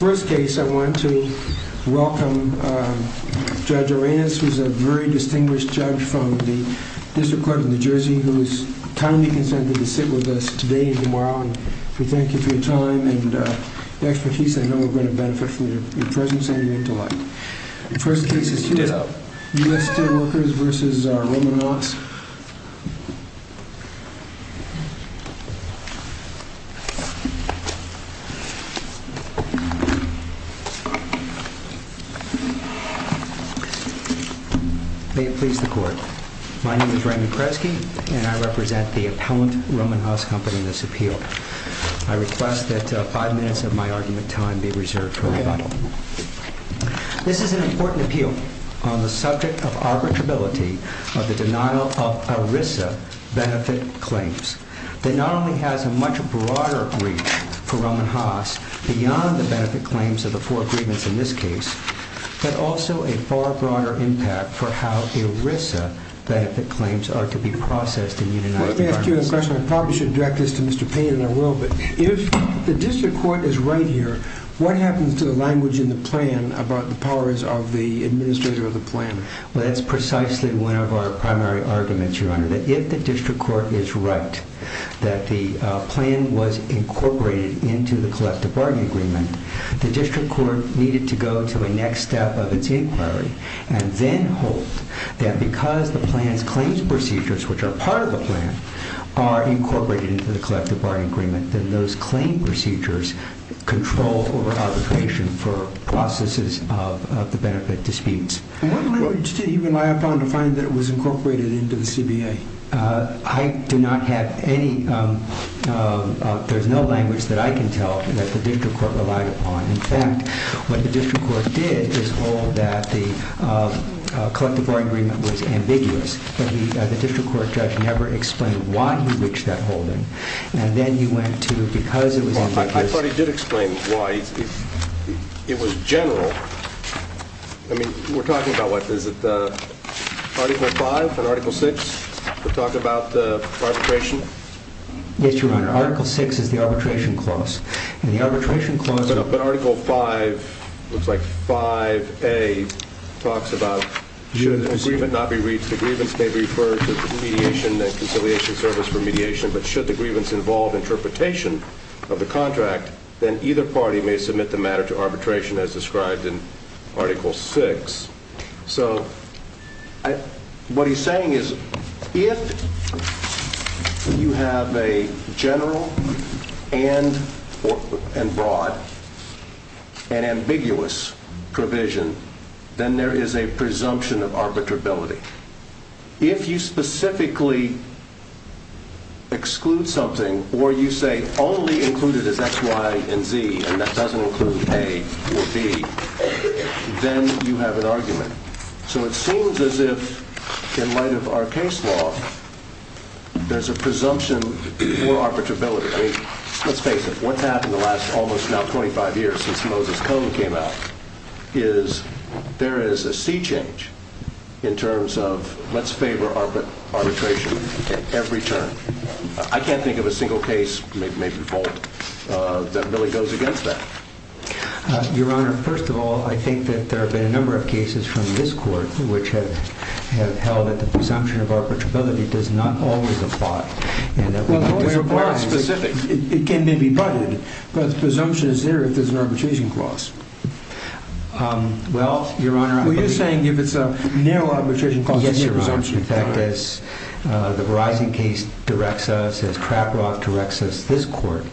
First case I want to welcome Judge Arenas, who is a very distinguished judge from the District Court of New Jersey, who has kindly consented to sit with us today and tomorrow. We thank you for your time and expertise. I know we're going to benefit from your presence and your intellect. The first case is U.S. Steel Workers v. Rohm&Haas. May it please the Court. My name is Raymond Kresge and I represent the appellant Rohm&Haas company in this appeal. I request that five minutes of my argument time be reserved for rebuttal. This is an important appeal on the subject of arbitrability of the denial of Rohm&Haas beyond the benefit claims of the four agreements in this case, but also a far broader impact for how ERISA benefit claims are to be processed in the United States. Let me ask you a question. I probably shouldn't direct this to Mr. Payne, and I will, but if the District Court is right here, what happens to the language in the plan about the powers of the administrator of the plan? Well, that's precisely one of our primary arguments, Your Honor, that if the District Court is right that the plan was incorporated into the collective bargaining agreement, the District Court needed to go to the next step of its inquiry and then hope that because the plan's claims procedures, which are part of the plan, are incorporated into the collective bargaining agreement, then those claim procedures control over arbitration for processes of the benefit disputes. And what language did you rely upon to find that it was incorporated into the CBA? I do not have any. There's no language that I can tell that the District Court relied upon. In fact, what the District Court did is hold that the collective bargaining agreement was ambiguous, but the District Court judge never explained why he reached that holding, I thought he did explain why. It was general. I mean, we're talking about, what, is it Article 5 and Article 6 that talk about arbitration? Yes, Your Honor. Article 6 is the arbitration clause, and the arbitration clause... But Article 5, looks like 5A, talks about should an agreement not be reached, the grievance may be referred to the mediation and conciliation service for mediation, but should the grievance involve interpretation of the contract, then either party may submit the matter to arbitration as described in Article 6. So, what he's saying is, if you have a general and broad and ambiguous provision, then there is a presumption of arbitrability. If you specifically exclude something, or you say only include it as X, Y, and Z, and that doesn't include A or B, then you have an argument. So it seems as if, in light of our case law, there's a presumption for arbitrability. I mean, let's face it, what's happened the last, almost now 25 years since Moses Cone came out, is there is a sea change in terms of, let's favor arbitration at every turn. I can't think of a single case, maybe fault, that really goes against that. Your Honor, first of all, I think that there have been a number of cases from this Court which have held that the presumption of arbitrability does not always apply. It can be butted, but the presumption is there if there's an arbitration clause. Well, Your Honor, you're saying if it's a narrow arbitration clause, there's a presumption. In fact, as the Verizon case directs us, as Crabrock directs us, this Court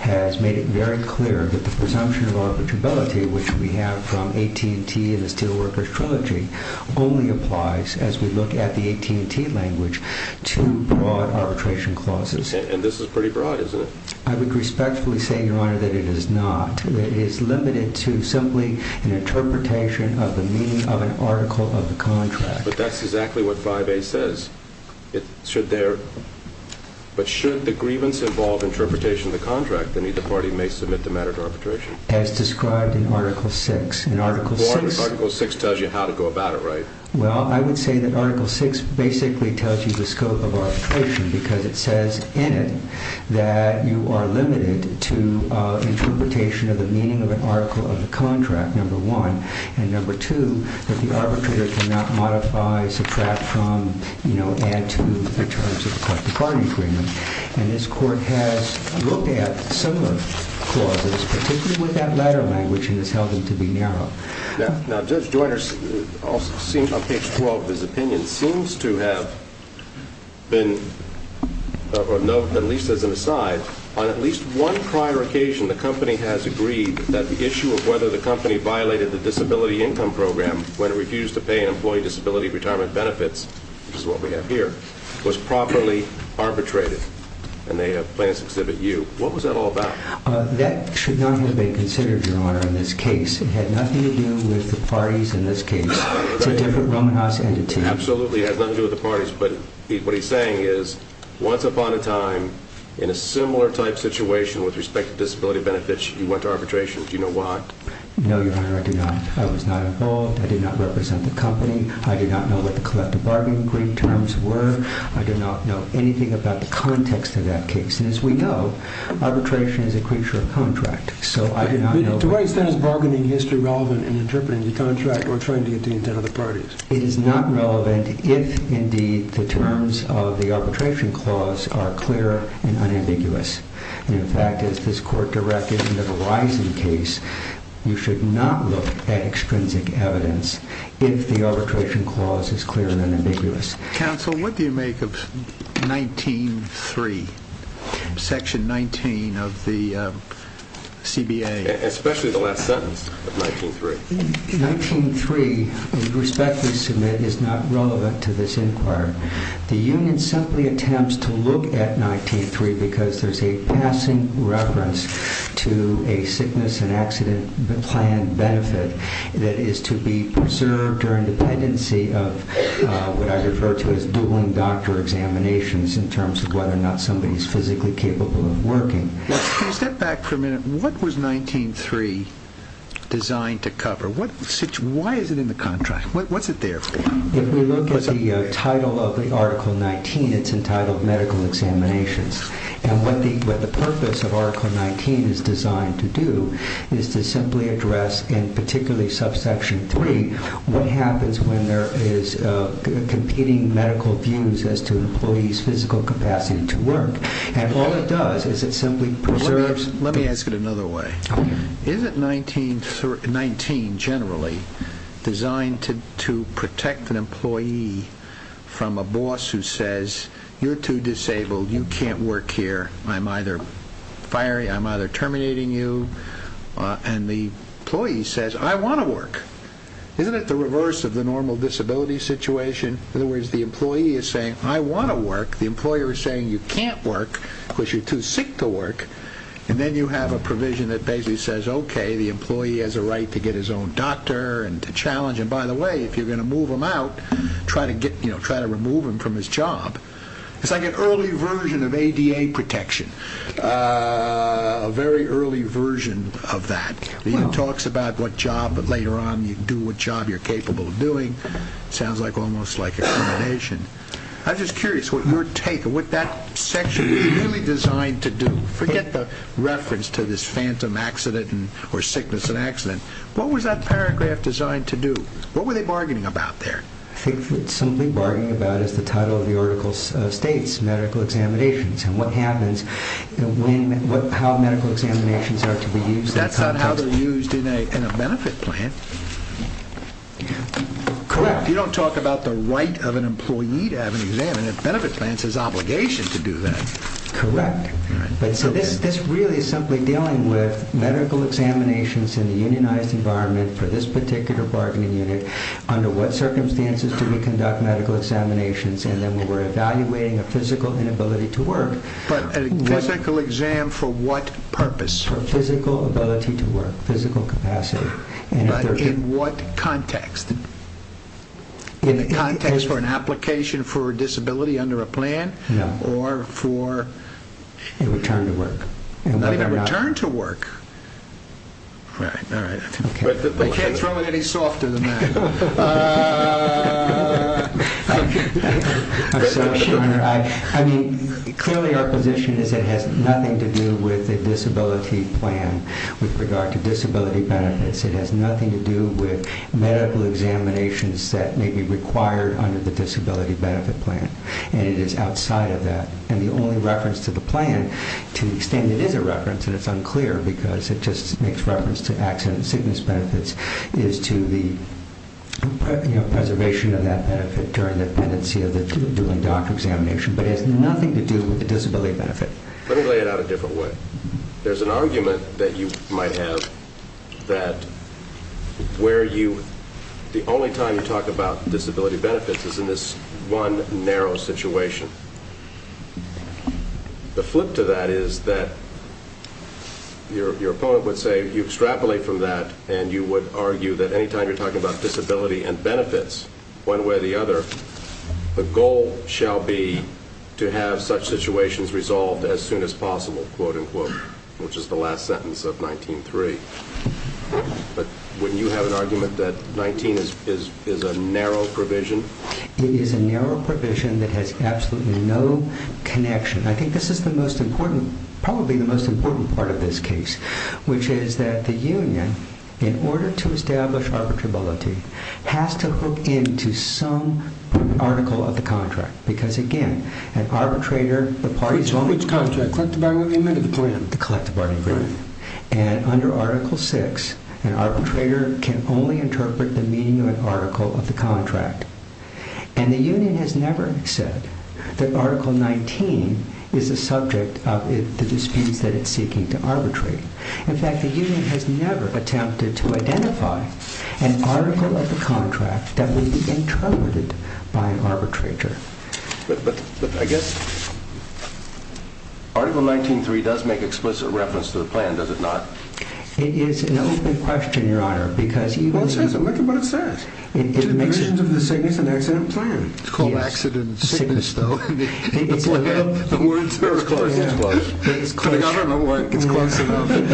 has made it very clear that the presumption of arbitrability, which we have from AT&T in the Steelworkers Trilogy, only applies, as we look at the AT&T language, to broad arbitration clauses. And this is pretty broad, isn't it? I would respectfully say, Your Honor, that it is not. It is limited to simply an interpretation of the meaning of an article of the contract. But that's exactly what 5A says. But should the grievance involve interpretation of the contract, then either party may submit the matter to arbitration. As described in Article 6. Article 6 tells you how to go about it, right? Well, I would say that Article 6 basically tells you the scope of arbitration, because it says in it that you are limited to interpretation of the meaning of an article of the contract, number one. And number two, that the arbitrator cannot modify, subtract from, you know, add to in terms of the party agreement. And this Court has looked at similar clauses, particularly with that latter language, and has held them to be narrow. Now, Judge Joyner, on page 12 of his opinion, seems to have been, at least as an aside, on at least one prior occasion, the company has agreed that the issue of whether the company violated the disability income program when it refused to pay an employee disability retirement benefits, which is what we have here, was properly arbitrated. And they have plans to exhibit you. What was that all about? That should not have been considered, Your Honor, in this case. It had nothing to do with the parties in this case. It's a different Roman house entity. Absolutely, it has nothing to do with the parties. But what he's saying is, once upon a time, in a similar type situation with respect to disability benefits, you went to arbitration. Do you know why? No, Your Honor, I do not. I was not involved. I did not represent the company. I do not know what the collective bargaining agreement terms were. I do not know anything about the context of that case. And as we know, arbitration is a creature of contract. So I do not know... But to what extent is bargaining history relevant in interpreting the contract or trying to get the intent of the parties? It is not relevant if, indeed, the terms of the arbitration clause are clear and unambiguous. And in fact, as this court directed in the Verizon case, you should not look at extrinsic evidence if the arbitration clause is clear and unambiguous. Counsel, what do you make of 19-3, section 19 of the CBA? Especially the last sentence of 19-3. 19-3, we respectfully submit, is not relevant to this inquiry. The union simply attempts to look at 19-3 because there's a passing reference to a sickness and accident plan benefit that is to be preserved during dependency of what I refer to as dueling doctor examinations in terms of whether or not somebody is physically capable of working. Can you step back for a minute? What was 19-3 designed to cover? Why is it in the contract? What's it there for? If we look at the title of Article 19, it's entitled medical examinations. And what the purpose of Article 19 is designed to do is to simply address, and particularly subsection 3, what happens when there is competing medical views as to an employee's physical capacity to work. And all it does is it simply preserves Let me ask it another way. Is it 19, generally, designed to protect an employee from a boss who says, you're too disabled, you can't work here, I'm either firing, I'm either terminating you, and the employee says, I want to work. Isn't it the reverse of the normal disability situation? In other words, the employee is saying, I want to work. The employer is saying, you can't work because you're too sick to work. And then you have a provision that basically says, okay, the employee has a right to get his own doctor and to challenge him. By the way, if you're going to move him out, try to remove him from his job. It's like an early version of ADA protection, a very early version of that. It talks about what job, but later on, you can do what job you're capable of doing. It sounds almost like a combination. I'm just curious what your take, what that section is really designed to do. Forget the reference to this phantom accident or sickness and accident. What was that paragraph designed to do? What were they bargaining about there? I think what they're simply bargaining about is the title of the article states medical examinations and what happens, how medical examinations are to be used. That's not how they're used in a benefit plan. Correct. You don't talk about the right of an employee to have an exam. A benefit plan says obligation to do that. Correct. This really is simply dealing with medical examinations in the unionized environment for this particular bargaining unit. Under what circumstances do we conduct medical examinations? And then when we're evaluating a physical inability to work. But a physical exam for what purpose? For physical ability to work, physical capacity. But in what context? In the context for an application for a disability under a plan? No. Or for? A return to work. A return to work? Right, all right. I can't throw it any softer than that. I'm so sure. I mean, clearly our position is it has nothing to do with a disability plan with regard to disability benefits. It has nothing to do with medical examinations that may be required under the disability benefit plan. And it is outside of that. And the only reference to the plan, to the extent it is a reference and it's unclear because it just makes reference to accident sickness benefits, is to the preservation of that benefit during the pendency of the dueling doctor examination. But it has nothing to do with the disability benefit. Let me lay it out a different way. There's an argument that you might have that where you, the only time you talk about disability benefits is in this one narrow situation. The flip to that is that your opponent would say you extrapolate from that and you would argue that any time you're talking about disability and benefits, one way or the other, the goal shall be to have such situations resolved as soon as possible, which is the last sentence of 19-3. But wouldn't you have an argument that 19 is a narrow provision? It is a narrow provision that has absolutely no connection. I think this is the most important, probably the most important part of this case, which is that the union, in order to establish arbitrability, has to look into some article of the contract. Because again, an arbitrator, the parties only... Which contract, the collective bargaining agreement or the plan? The collective bargaining agreement. And under Article 6, an arbitrator can only interpret the meaning of an article of the contract. And the union has never said that Article 19 is a subject of the disputes that it's seeking to arbitrate. In fact, the union has never attempted to identify an article of the contract that would be interpreted by an arbitrator. But I guess Article 19-3 does make explicit reference to the plan, does it not? It is an open question, Your Honor, because... Well, it says it. Look at what it says. It's a division of the sickness and accident plan. It's called accident sickness, though. It's a little... It's close, it's close. I don't know why it's close enough. It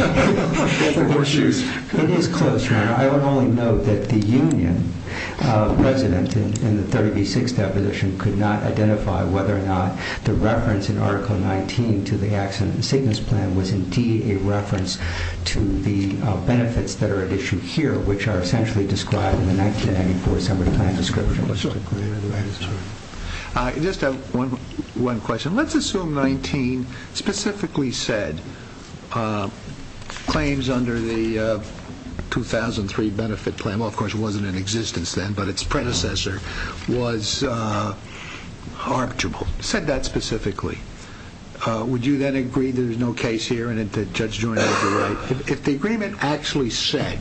is close, Your Honor. Your Honor, I would only note that the union president in the 30B6 deposition could not identify whether or not the reference in Article 19 to the accident and sickness plan was indeed a reference to the benefits that are at issue here, which are essentially described in the 1994 Assembly Plan description. Just one question. Let's assume 19 specifically said claims under the 2003 benefit plan, well, of course it wasn't in existence then, but its predecessor, was arbitrable. It said that specifically. Would you then agree there's no case here and that Judge Joyner is right? If the agreement actually said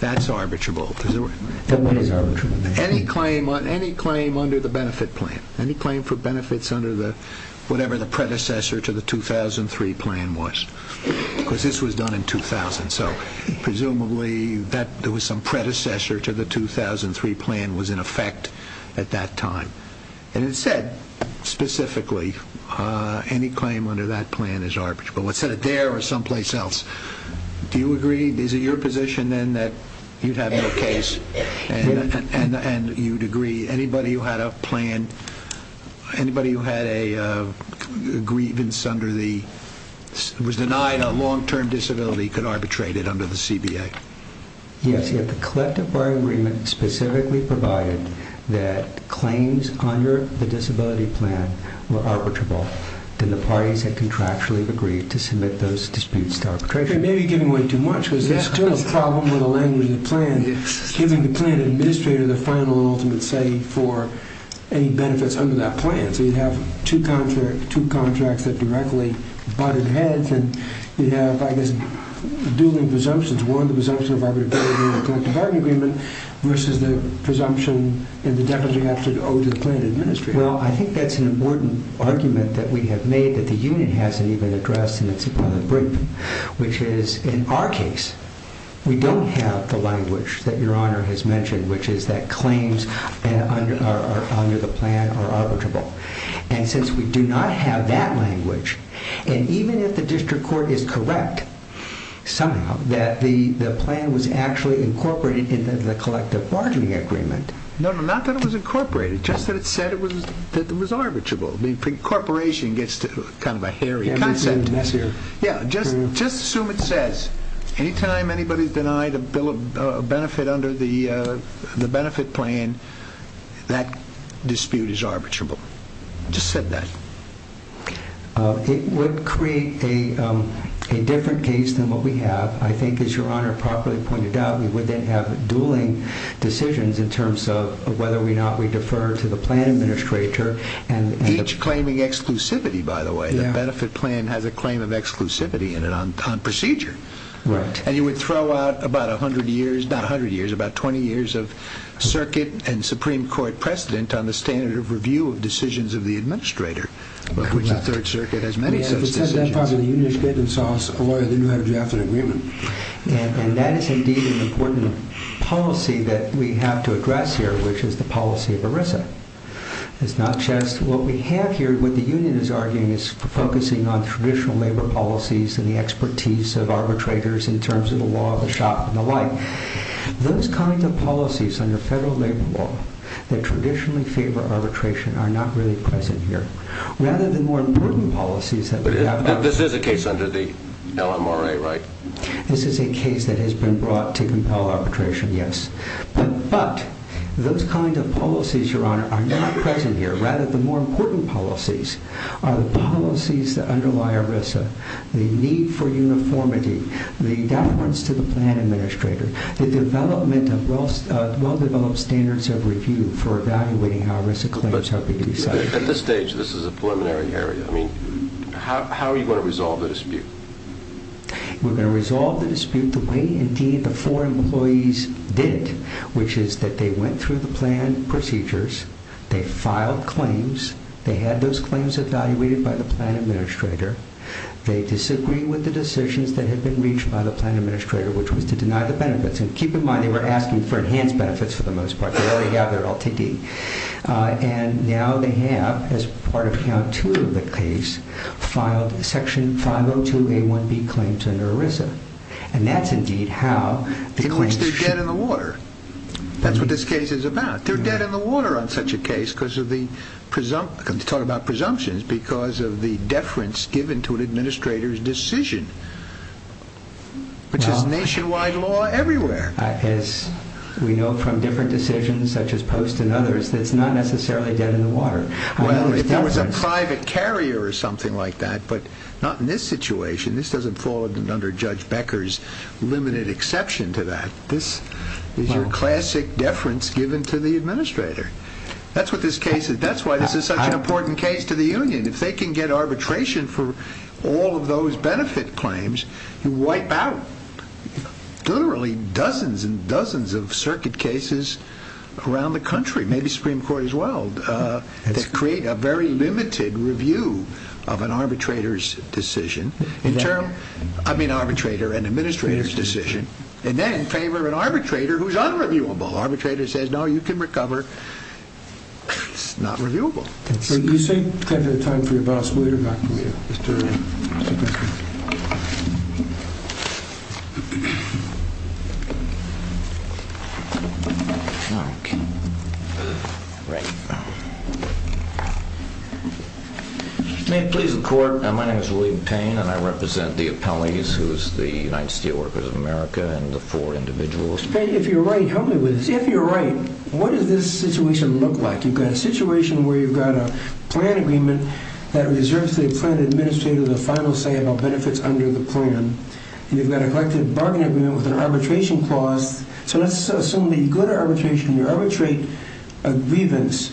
that's arbitrable... Then what is arbitrable? Any claim under the benefit plan, any claim for benefits under whatever the predecessor to the 2003 plan was, because this was done in 2000, so presumably there was some predecessor to the 2003 plan was in effect at that time. And it said specifically any claim under that plan is arbitrable. It said it there or someplace else. Do you agree? Is it your position then that you'd have no case and you'd agree anybody who had a plan, anybody who had a grievance under the... was denied a long-term disability could arbitrate it under the CBA? Yes, if the collective bar agreement specifically provided that claims under the disability plan were arbitrable, then the parties had contractually agreed to submit those disputes to arbitration. You may be giving away too much because there's still a problem with the language of the plan, giving the plan administrator the final and ultimate say for any benefits under that plan. So you'd have two contracts that directly butted heads and you'd have, I guess, dueling presumptions. One, the presumption of arbitration in the collective bar agreement versus the presumption in the definition of the plan administrator. Well, I think that's an important argument that we have made that the union hasn't even addressed in its appellate brief, which is, in our case, we don't have the language that Your Honor has mentioned, which is that claims under the plan are arbitrable. And since we do not have that language, and even if the district court is correct somehow that the plan was actually incorporated into the collective bargaining agreement... No, no, not that it was incorporated, just that it said it was arbitrable. Incorporation gets kind of a hairy concept. Just assume it says, anytime anybody's denied a benefit under the benefit plan, that dispute is arbitrable. Just said that. It would create a different case than what we have. I think, as Your Honor properly pointed out, we would then have dueling decisions in terms of whether or not we defer to the plan administrator Each claiming exclusivity, by the way. The benefit plan has a claim of exclusivity in it on procedure. Right. And you would throw out about a hundred years, not a hundred years, about twenty years of circuit and Supreme Court precedent on the standard of review of decisions of the administrator, of which the Third Circuit has many such decisions. If it says that part of the union is good and so on, then you have a drafted agreement. And that is indeed an important policy that we have to address here, which is the policy of ERISA. It's not just what we have here. What the union is arguing is focusing on traditional labor policies and the expertise of arbitrators in terms of the law of the shop and the like. Those kinds of policies under federal labor law that traditionally favor arbitration are not really present here. Rather than more important policies that we have. But this is a case under the LMRA, right? This is a case that has been brought to compel arbitration, yes. But those kinds of policies, Your Honor, are not present here. Rather, the more important policies are the policies that underlie ERISA, the need for uniformity, the deference to the plan administrator, the development of well-developed standards of review for evaluating how ERISA claims have been decided. At this stage, this is a preliminary area. I mean, how are you going to resolve the dispute? We're going to resolve the dispute the way, indeed, the four employees did it, which is that they went through the plan procedures. They filed claims. They had those claims evaluated by the plan administrator. They disagreed with the decisions that had been reached by the plan administrator, which was to deny the benefits. And keep in mind, they were asking for enhanced benefits for the most part. They already have their LTD. And now they have, as part of count two of the case, filed Section 502A1B claim to ERISA. And that's, indeed, how the claims... In which they're dead in the water. That's what this case is about. They're dead in the water on such a case because of the presumptions, because of the deference given to an administrator's decision, which is nationwide law everywhere. As we know from different decisions, such as Post and others, it's not necessarily dead in the water. Well, if there was a private carrier or something like that, but not in this situation. This doesn't fall under Judge Becker's limited exception to that. This is your classic deference given to the administrator. That's what this case is. That's why this is such an important case to the union. If they can get arbitration for all of those benefit claims, you wipe out literally dozens and dozens of circuit cases around the country, maybe Supreme Court as well, that create a very limited review of an arbitrator's decision. I mean arbitrator and administrator's decision. And then favor an arbitrator who's unreviewable. Arbitrator says, no, you can recover. It's not reviewable. Do you have time for your boss later? May it please the Court. My name is William Payne, and I represent the appellees, who is the United Steelworkers of America and the four individuals. Mr. Payne, if you're right, help me with this. If you're right, what does this situation look like? You've got a situation where you've got a plan agreement that reserves the plan administrator the final say about benefits under the plan. And you've got a collective bargaining agreement with an arbitration clause. So let's assume the good arbitration. You arbitrate a grievance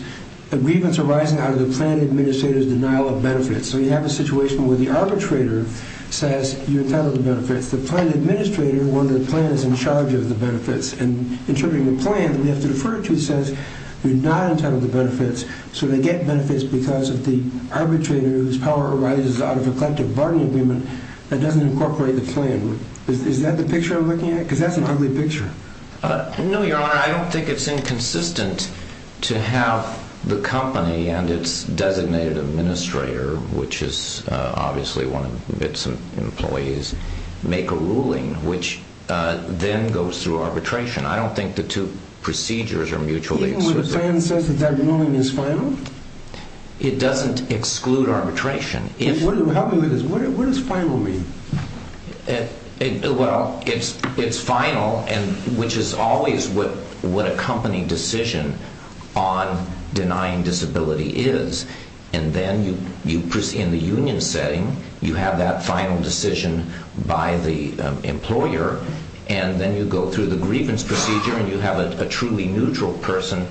arising out of the plan administrator's denial of benefits. So you have a situation where the arbitrator says you're entitled to benefits. And in terms of your plan, you have to defer it to the sense you're not entitled to benefits. So they get benefits because of the arbitrator whose power arises out of a collective bargaining agreement that doesn't incorporate the plan. Is that the picture you're looking at? Because that's an ugly picture. No, Your Honor, I don't think it's inconsistent to have the company and its designated administrator, which is obviously one of its employees, make a ruling which then goes through arbitration. I don't think the two procedures are mutually exclusive. Even when the plan says that that ruling is final? It doesn't exclude arbitration. Help me with this. What does final mean? Well, it's final, which is always what a company decision on denying disability is. And then in the union setting, you have that final decision by the employer. And then you go through the grievance procedure and you have a truly neutral person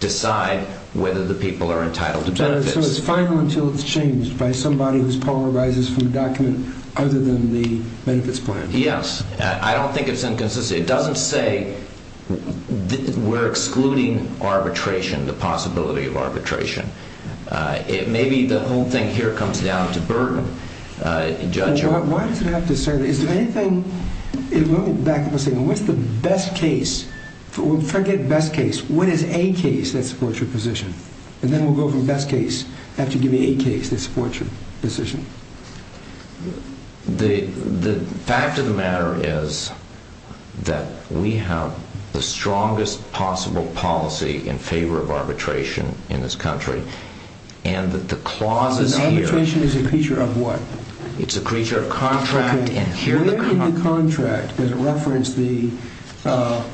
decide whether the people are entitled to benefits. So it's final until it's changed by somebody whose power arises from a document other than the benefits plan? Yes. I don't think it's inconsistent. It doesn't say we're excluding arbitration, the possibility of arbitration. Maybe the whole thing here comes down to burden. Why does it have to say that? Is there anything... Let me back up a second. What's the best case? Forget best case. What is a case that supports your position? And then we'll go from best case after you give me a case that supports your position. The fact of the matter is that we have the strongest possible policy in favor of arbitration in this country. And that the clauses here... So arbitration is a creature of what? It's a creature of contract and here... Where in the contract does it reference the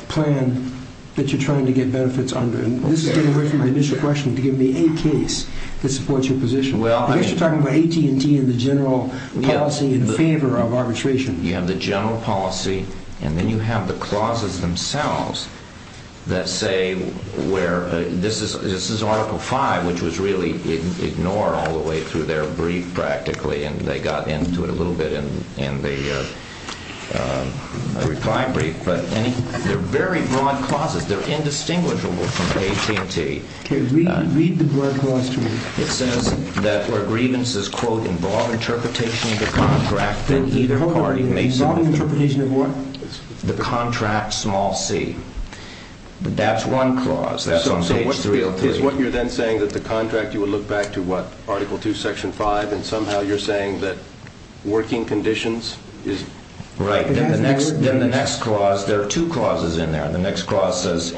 plan that you're trying to get benefits under? And this is different from the initial question, to give me a case that supports your position. I guess you're talking about AT&T and the general policy in favor of arbitration. You have the general policy and then you have the clauses themselves that say where... This is Article 5, which was really ignored all the way through their brief practically and they got into it a little bit in the reply brief. But they're very broad clauses. They're indistinguishable from AT&T. Read the broad clause to me. It says that where grievances, quote, involve interpretation of the contract, then either party may submit... Involve interpretation of what? The contract, small c. That's one clause. That's on page 303. So what you're then saying is that the contract, you would look back to what? Article 2, Section 5, and somehow you're saying that working conditions is... Right. Then the next clause, there are two clauses in there. The next clause says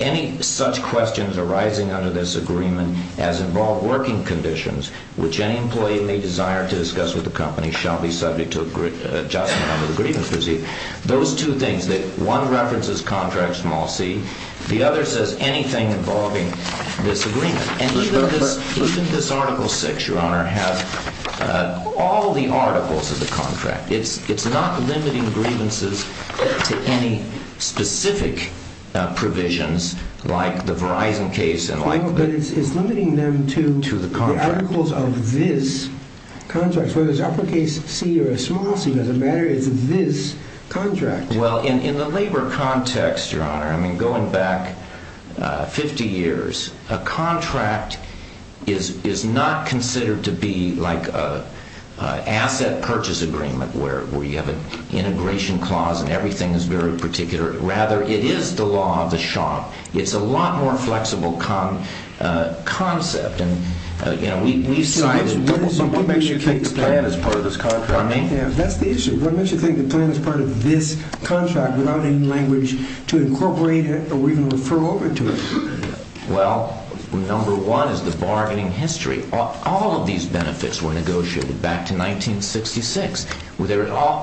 any such questions arising under this agreement as involve working conditions, which any employee may desire to discuss with the company, shall be subject to adjustment under the grievance procedure. Those two things, one references contract, small c. The other says anything involving this agreement. And even this Article 6, Your Honor, has all the articles of the contract. It's not limiting grievances to any specific provisions like the Verizon case and like... But it's limiting them to... To the contract. The articles of this contract. Whether it's uppercase C or a small c, it doesn't matter. It's this contract. Well, in the labor context, Your Honor, I mean, going back 50 years, a contract is not considered to be like an asset purchase agreement where you have an integration clause and everything is very particular. Rather, it is the law of the shop. It's a lot more flexible concept. And, you know, we see... What makes you think the plan is part of this contract? What do I mean? That's the issue. What makes you think the plan is part of this contract without any language to incorporate it or even refer over to it? Well, number one is the bargaining history. All of these benefits were negotiated back to 1966.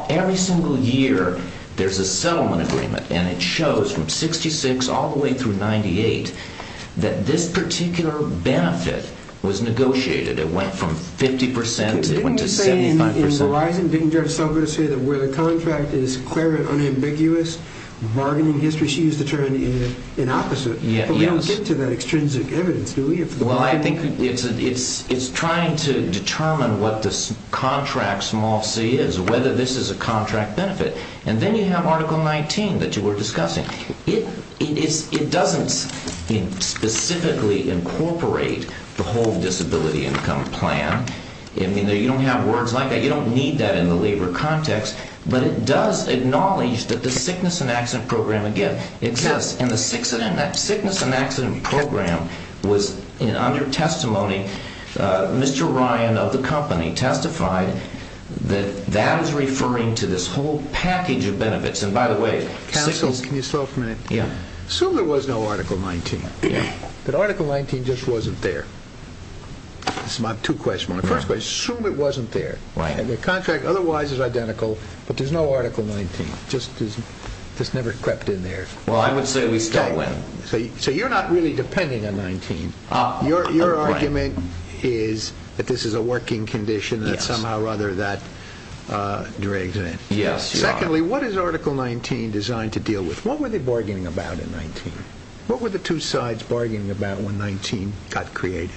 Every single year, there's a settlement agreement. And it shows from 66 all the way through 98 that this particular benefit was negotiated. It went from 50 percent to 75 percent. Didn't we say in Verizon, didn't Judge Selva say that where the contract is clear and unambiguous, bargaining history is used to turn it in opposite? But we don't get to that extrinsic evidence, do we? Well, I think it's trying to determine what this contract small c is, whether this is a contract benefit. And then you have Article 19 that you were discussing. It doesn't specifically incorporate the whole disability income plan. I mean, you don't have words like that. You don't need that in the labor context. But it does acknowledge that the sickness and accident program, again, exists. And the sickness and accident program was under testimony. Mr. Ryan of the company testified that that is referring to this whole package of benefits. And by the way, sickness— Counsel, can you slow for a minute? Yeah. Assume there was no Article 19. Yeah. But Article 19 just wasn't there. That's my two questions. My first question, assume it wasn't there. Right. The contract otherwise is identical, but there's no Article 19. It just never crept in there. Well, I would say we still win. So you're not really depending on 19. Your argument is that this is a working condition that somehow or other that drags in. Yes, you are. Secondly, what is Article 19 designed to deal with? What were they bargaining about in 19? What were the two sides bargaining about when 19 got created?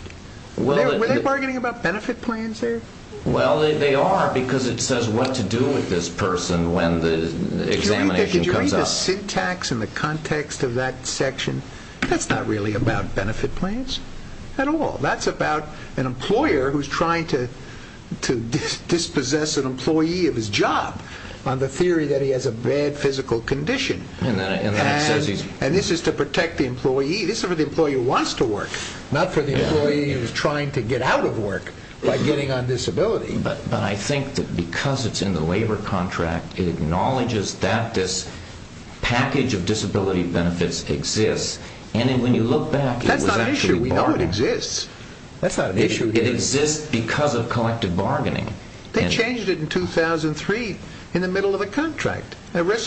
Were they bargaining about benefit plans there? Well, they are because it says what to do with this person when the examination comes up. Did you read the syntax and the context of that section? That's not really about benefit plans at all. That's about an employer who's trying to dispossess an employee of his job on the theory that he has a bad physical condition. And this is to protect the employee. This is for the employee who wants to work, not for the employee who's trying to get out of work by getting on disability. But I think that because it's in the labor contract, it acknowledges that this package of disability benefits exists. And when you look back, it was actually bargaining. That's not an issue. We know it exists. It exists because of collective bargaining. ERISA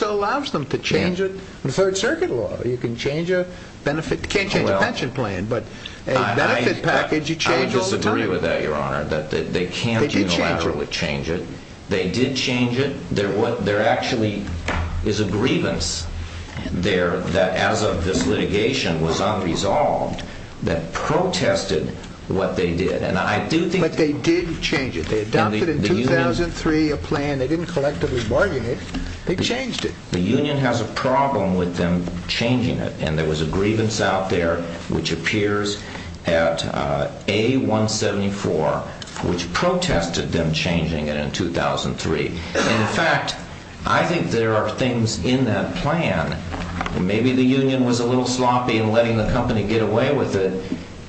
allows them to change it. In Third Circuit law, you can't change a pension plan, but a benefit package you change all the time. I disagree with that, Your Honor. They can't unilaterally change it. They did change it. There actually is a grievance there that as of this litigation was unresolved that protested what they did. But they did change it. They adopted in 2003 a plan. And they didn't collectively bargain it. They changed it. The union has a problem with them changing it. And there was a grievance out there which appears at A-174 which protested them changing it in 2003. In fact, I think there are things in that plan. Maybe the union was a little sloppy in letting the company get away with it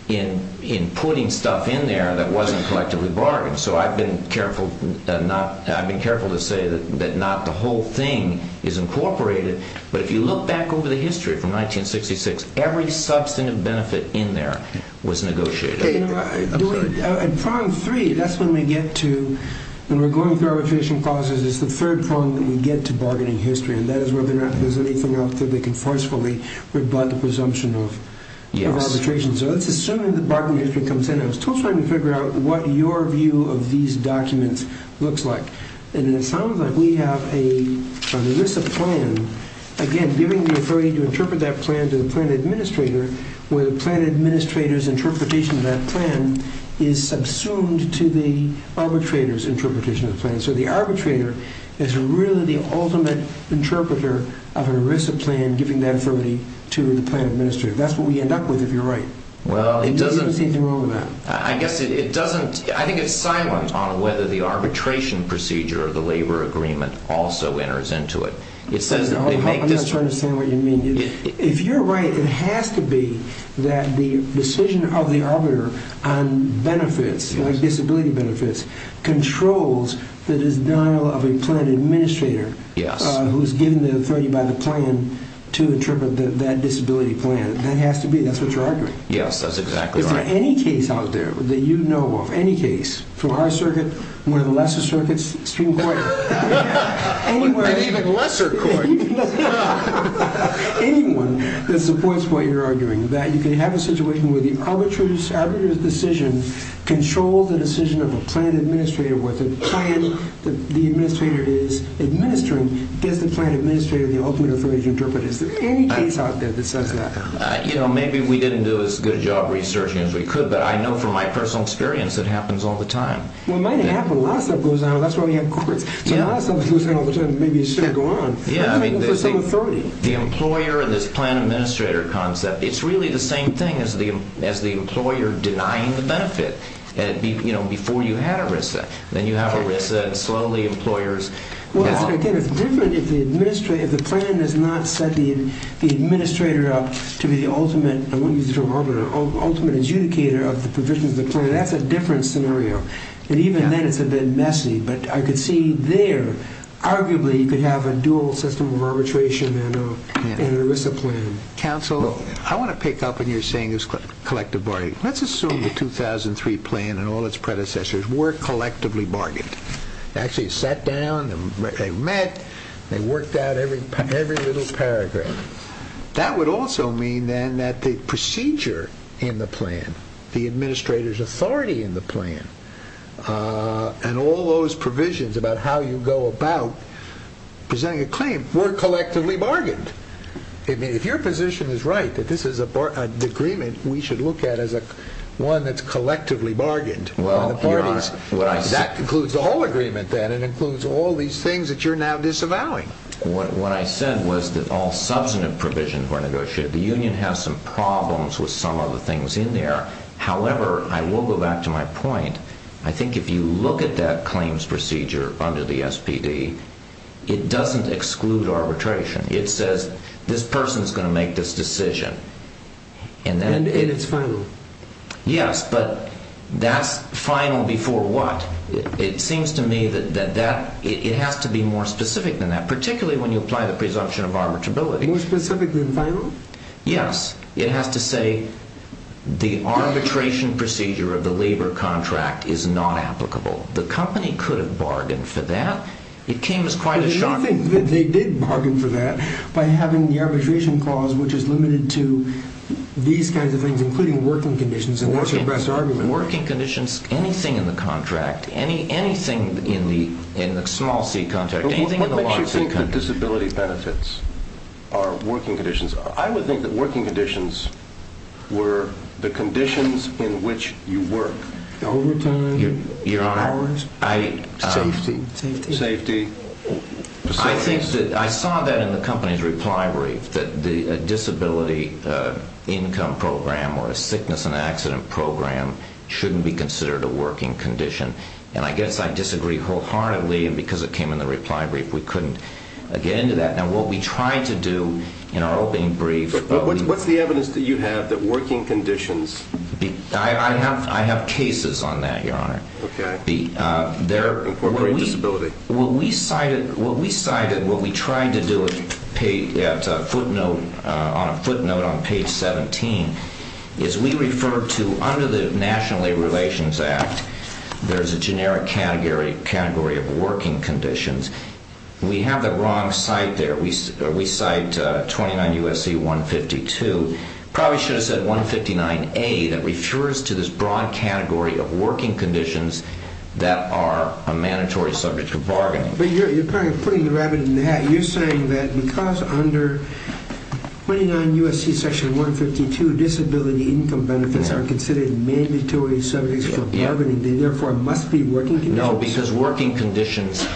in putting stuff in there that wasn't collectively bargained. So I've been careful to say that not the whole thing is incorporated. But if you look back over the history from 1966, every substantive benefit in there was negotiated. In Prong 3, that's when we get to, when we're going through arbitration clauses, it's the third prong that we get to bargaining history. And that is whether or not there's anything else that they can forcefully rebut the presumption of arbitration. So let's assume that bargaining history comes in. I was still trying to figure out what your view of these documents looks like. And it sounds like we have an ERISA plan, again, giving the authority to interpret that plan to the plan administrator, where the plan administrator's interpretation of that plan is subsumed to the arbitrator's interpretation of the plan. So the arbitrator is really the ultimate interpreter of an ERISA plan, giving that authority to the plan administrator. That's what we end up with, if you're right. Well, it doesn't. There's nothing wrong with that. I guess it doesn't. I think it's silent on whether the arbitration procedure or the labor agreement also enters into it. I'm not trying to understand what you mean. If you're right, it has to be that the decision of the arbiter on benefits, like disability benefits, controls the denial of a plan administrator who's given the authority by the plan to interpret that disability plan. That has to be it. That's what you're arguing. Yes, that's exactly right. Is there any case out there that you know of, any case, through our circuit, one of the lesser circuits, Supreme Court? Even lesser court. Anyone that supports what you're arguing, that you can have a situation where the arbitrator's decision controls the decision of a plan administrator, whether the plan that the administrator is administering gets the plan administrator the ultimate authority to interpret it. Is there any case out there that says that? Maybe we didn't do as good a job researching as we could, but I know from my personal experience, it happens all the time. Well, it might happen. A lot of stuff goes on. That's why we have courts. So a lot of stuff goes on all the time. Maybe it should go on. Yeah. For some authority. The employer and this plan administrator concept, it's really the same thing as the employer denying the benefit before you had a risk. Then you have a risk that slowly employers... Well, again, it's different if the plan does not set the administrator up to be the ultimate, I won't use the term arbiter, ultimate adjudicator of the provisions of the plan. That's a different scenario. And even then, it's a bit messy. But I could see there, arguably, you could have a dual system of arbitration and an ERISA plan. Counsel, I want to pick up on what you're saying about collective bargaining. Let's assume the 2003 plan and all its predecessors were collectively bargained. They actually sat down, they met, they worked out every little paragraph. That would also mean, then, that the procedure in the plan, the administrator's authority in the plan, and all those provisions about how you go about presenting a claim were collectively bargained. If your position is right, that this is an agreement we should look at as one that's collectively bargained. That includes the whole agreement, then. It includes all these things that you're now disavowing. What I said was that all substantive provisions were negotiated. The union has some problems with some of the things in there. However, I will go back to my point. I think if you look at that claims procedure under the SPD, it doesn't exclude arbitration. It says this person is going to make this decision. And it's final. Yes, but that's final before what? It seems to me that it has to be more specific than that, particularly when you apply the presumption of arbitrability. More specific than final? Yes. It has to say the arbitration procedure of the labor contract is not applicable. The company could have bargained for that. It came as quite a shock. They did bargain for that by having the arbitration clause, which is limited to these kinds of things, including working conditions. What's your best argument? Working conditions, anything in the contract, anything in the small C contract, anything in the large C contract. What makes you think that disability benefits are working conditions? I would think that working conditions were the conditions in which you work. Overtime, hours, safety. I saw that in the company's reply brief, that the disability income program or a sickness and accident program shouldn't be considered a working condition. And I guess I disagree wholeheartedly because it came in the reply brief. We couldn't get into that. Now, what we tried to do in our opening brief. What's the evidence that you have that working conditions. I have cases on that, Your Honor. Incorporating disability. What we cited, what we tried to do at footnote on page 17 is we refer to under the National Labor Relations Act, there's a generic category of working conditions. We have the wrong site there. We cite 29 U.S.C. 152. Probably should have said 159A. That refers to this broad category of working conditions that are a mandatory subject for bargaining. But you're putting the rabbit in the hat. You're saying that because under 29 U.S.C. section 152, disability income benefits are considered mandatory subjects for bargaining. They therefore must be working conditions. No, because working conditions,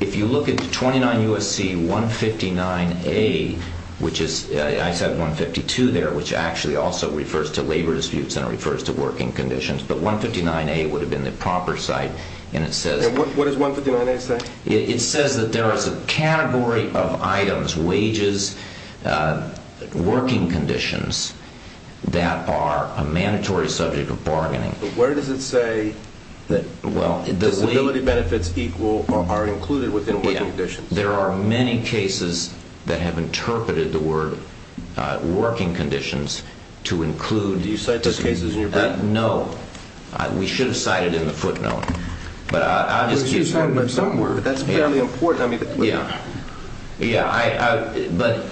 if you look at 29 U.S.C. 159A, which is, I said 152 there, which actually also refers to labor disputes and it refers to working conditions. But 159A would have been the proper site. And it says. What does 159A say? It says that there is a category of items, wages, working conditions that are a mandatory subject of bargaining. But where does it say. Disability benefits equal or are included within working conditions. There are many cases that have interpreted the word working conditions to include. Do you cite those cases in your brief? No. We should have cited it in the footnote. But I'll just keep saying that. But somewhere, that's fairly important. Yeah. Yeah. But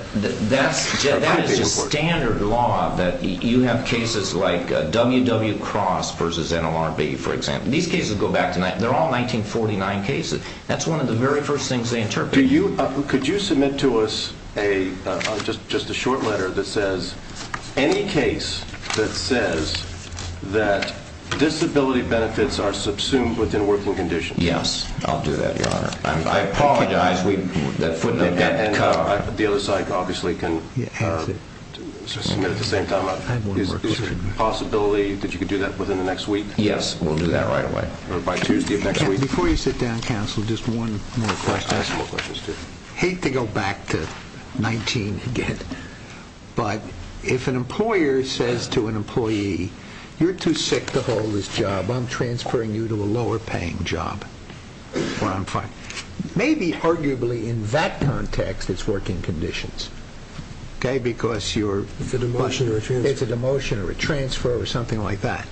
that is just standard law that you have cases like WW Cross versus NLRB, for example. These cases go back to, they're all 1949 cases. That's one of the very first things they interpreted. Could you submit to us just a short letter that says any case that says that disability benefits are subsumed within working conditions. I'll do that, Your Honor. I apologize. The other side obviously can submit at the same time. Is there a possibility that you could do that within the next week? Yes. We'll do that right away. By Tuesday of next week. Before you sit down, counsel, just one more question. I have some more questions, too. I hate to go back to 19 again. But if an employer says to an employee, you're too sick to hold this job, I'm transferring you to a lower paying job. Or I'm fine. Maybe arguably in that context it's working conditions. Okay. Because you're. It's a demotion or a transfer. It's a demotion or a transfer or something like that.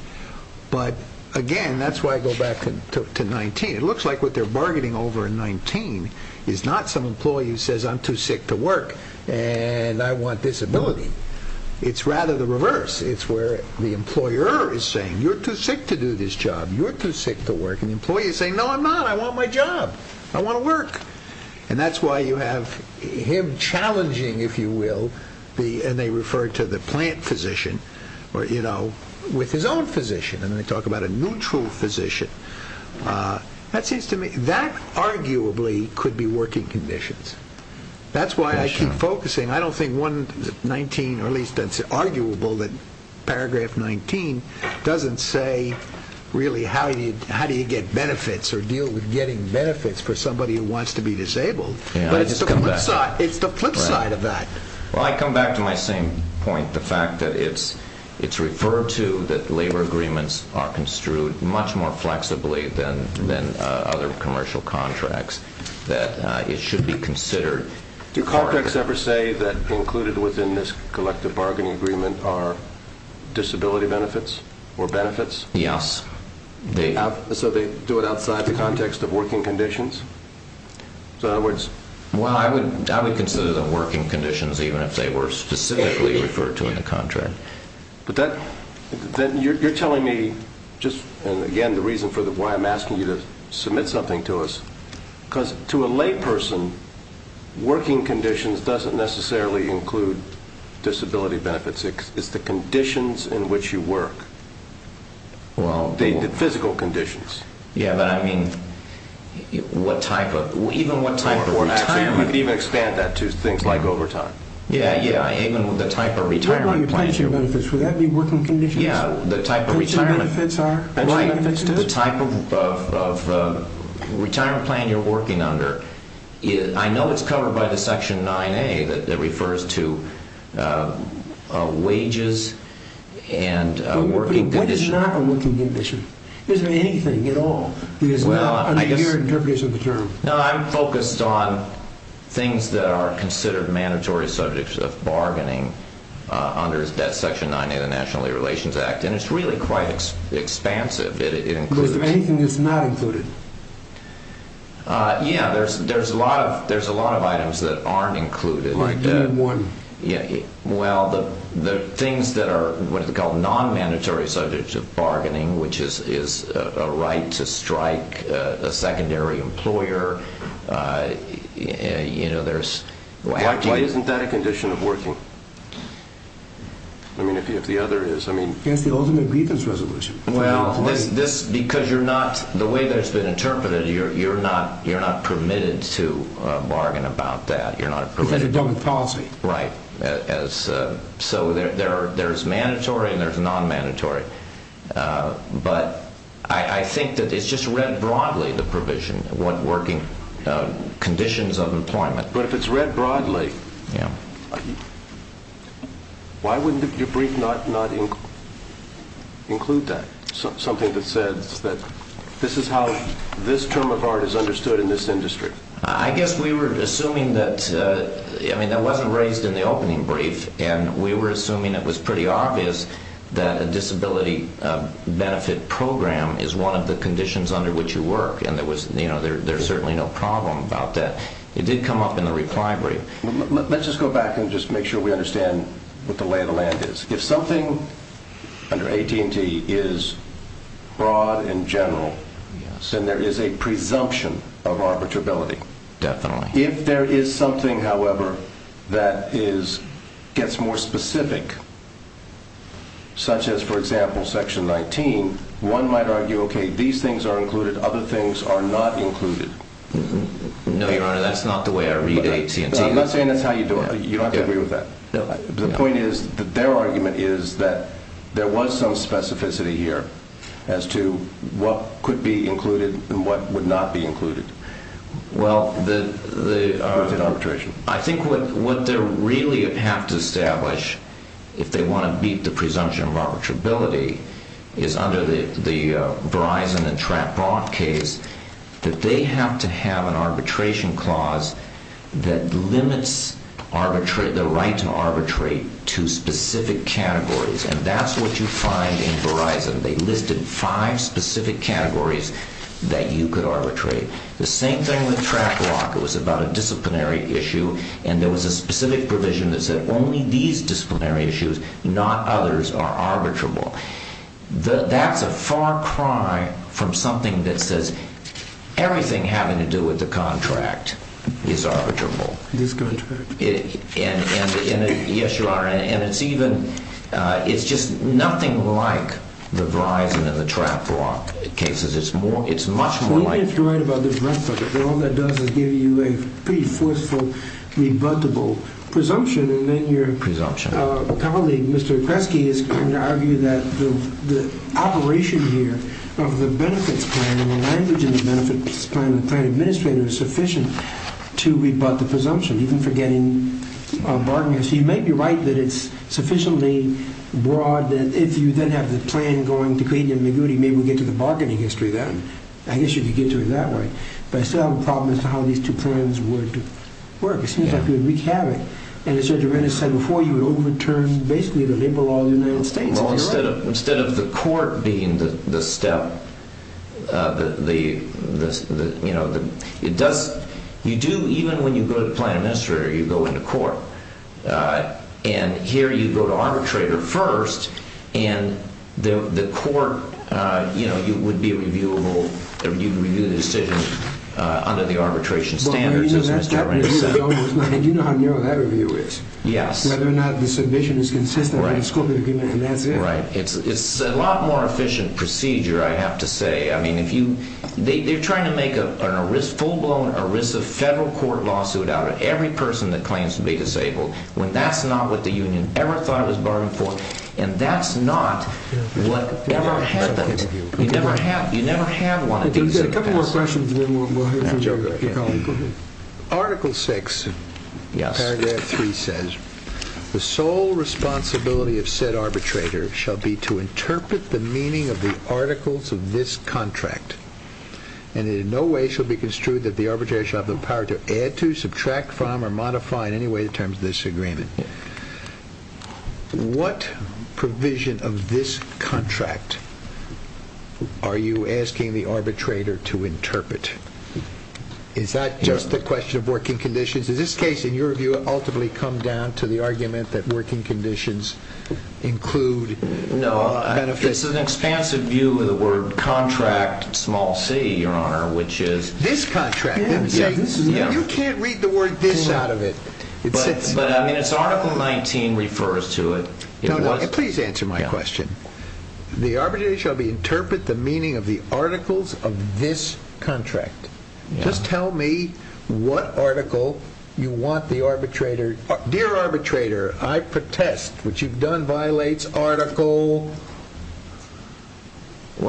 But again, that's why I go back to 19. It looks like what they're bargaining over in 19 is not some employee who says, I'm too sick to work and I want disability. It's rather the reverse. It's where the employer is saying, you're too sick to do this job. You're too sick to work. And the employee is saying, no, I'm not. I want my job. I want to work. And that's why you have him challenging, if you will. And they refer to the plant physician with his own physician. And they talk about a neutral physician. That arguably could be working conditions. That's why I keep focusing. I don't think 19, or at least it's arguable that paragraph 19 doesn't say really how do you get benefits or deal with getting benefits for somebody who wants to be disabled. But it's the flip side of that. Well, I come back to my same point, the fact that it's referred to that labor agreements are construed much more flexibly than other commercial contracts, that it should be considered. Do contracts ever say that included within this collective bargaining agreement are disability benefits or benefits? Yes. So they do it outside the context of working conditions? Well, I would consider them working conditions even if they were specifically referred to in the contract. But then you're telling me just, and again, the reason for why I'm asking you to submit something to us, because to a layperson, working conditions doesn't necessarily include disability benefits. It's the conditions in which you work, the physical conditions. Yeah, but I mean, what type of, even what type of retirement. Or actually, you could even expand that to things like overtime. Yeah, yeah, even with the type of retirement plan. What about your pension benefits? Would that be working conditions? Yeah, the type of retirement. Pension benefits are working conditions? Right, the type of retirement plan you're working under. I know it's covered by the section 9A that refers to wages and working conditions. It's not a working condition. Is there anything at all that is not under your interpretation of the term? No, I'm focused on things that are considered mandatory subjects of bargaining under section 9A of the National Labor Relations Act. And it's really quite expansive. But is there anything that's not included? Yeah, there's a lot of items that aren't included. All right, name one. Well, the things that are what is called non-mandatory subjects of bargaining, which is a right to strike a secondary employer, you know, there's... Why isn't that a condition of working? I mean, if the other is, I mean... It's the ultimate grievance resolution. Well, because you're not, the way that it's been interpreted, you're not permitted to bargain about that. Because you're done with policy. Right. So there's mandatory and there's non-mandatory. But I think that it's just read broadly, the provision, what working conditions of employment. But if it's read broadly, why wouldn't your brief not include that? Something that says that this is how this term of art is understood in this industry. I guess we were assuming that, I mean, that wasn't raised in the opening brief. And we were assuming it was pretty obvious that a disability benefit program is one of the conditions under which you work. And there was, you know, there's certainly no problem about that. It did come up in the reply brief. Let's just go back and just make sure we understand what the lay of the land is. If something under AT&T is broad and general, then there is a presumption of arbitrability. Definitely. If there is something, however, that gets more specific, such as, for example, Section 19, one might argue, okay, these things are included, other things are not included. No, Your Honor, that's not the way I read AT&T. I'm not saying that's how you do it. You don't have to agree with that. The point is that their argument is that there was some specificity here as to what could be included and what would not be included. Well, I think what they really have to establish, if they want to beat the presumption of arbitrability, is under the Verizon and TrackRock case that they have to have an arbitration clause that limits the right to arbitrate to specific categories. And that's what you find in Verizon. They listed five specific categories that you could arbitrate. The same thing with TrackRock. It was about a disciplinary issue, and there was a specific provision that said only these disciplinary issues, not others, are arbitrable. That's a far cry from something that says everything having to do with the contract is arbitrable. Discontract. Yes, Your Honor. And it's just nothing like the Verizon and the TrackRock cases. It's much more like... Well, even if you write about the rest of it, all that does is give you a pretty forceful, rebuttable presumption, and then your... Presumption. My colleague, Mr. Kresge, is going to argue that the operation here of the benefits plan and the language in the benefits plan and the plan administrator is sufficient to rebut the presumption, even forgetting bargaining. So you may be right that it's sufficiently broad that if you then have the plan going to Grady and Miguti, maybe we'll get to the bargaining history then. I guess you could get to it that way. But I still have a problem as to how these two plans would work. It seems like we would wreak havoc. And as Judge Arenas said before, you would overturn basically the labor law of the United States, if you're right. Well, instead of the court being the step, it does... You do, even when you go to the plan administrator, you go into court. And here you go to arbitrator first, and the court would be reviewable. You review the decision under the arbitration standards, as Mr. Arenas said. And you know how narrow that review is. Yes. Whether or not the submission is consistent with the scope of the agreement, and that's it. Right. It's a lot more efficient procedure, I have to say. I mean, they're trying to make a full-blown ERISA federal court lawsuit out of every person that claims to be disabled, when that's not what the union ever thought it was bargaining for. And that's not what ever happened. You never have one. We've got a couple more questions, and then we'll hear from your colleague. Article 6, paragraph 3 says, The sole responsibility of said arbitrator shall be to interpret the meaning of the articles of this contract, and in no way shall be construed that the arbitrator shall have the power to add to, subtract from, or modify in any way the terms of this agreement. What provision of this contract are you asking the arbitrator to interpret? Is that just a question of working conditions? Does this case, in your view, ultimately come down to the argument that working conditions include benefits? No. It's an expansive view of the word contract, small c, Your Honor, which is… This contract. Yes. You can't read the word this out of it. But, I mean, it's Article 19 refers to it. Please answer my question. The arbitrator shall be to interpret the meaning of the articles of this contract. Just tell me what article you want the arbitrator… Dear arbitrator, I protest what you've done violates Article…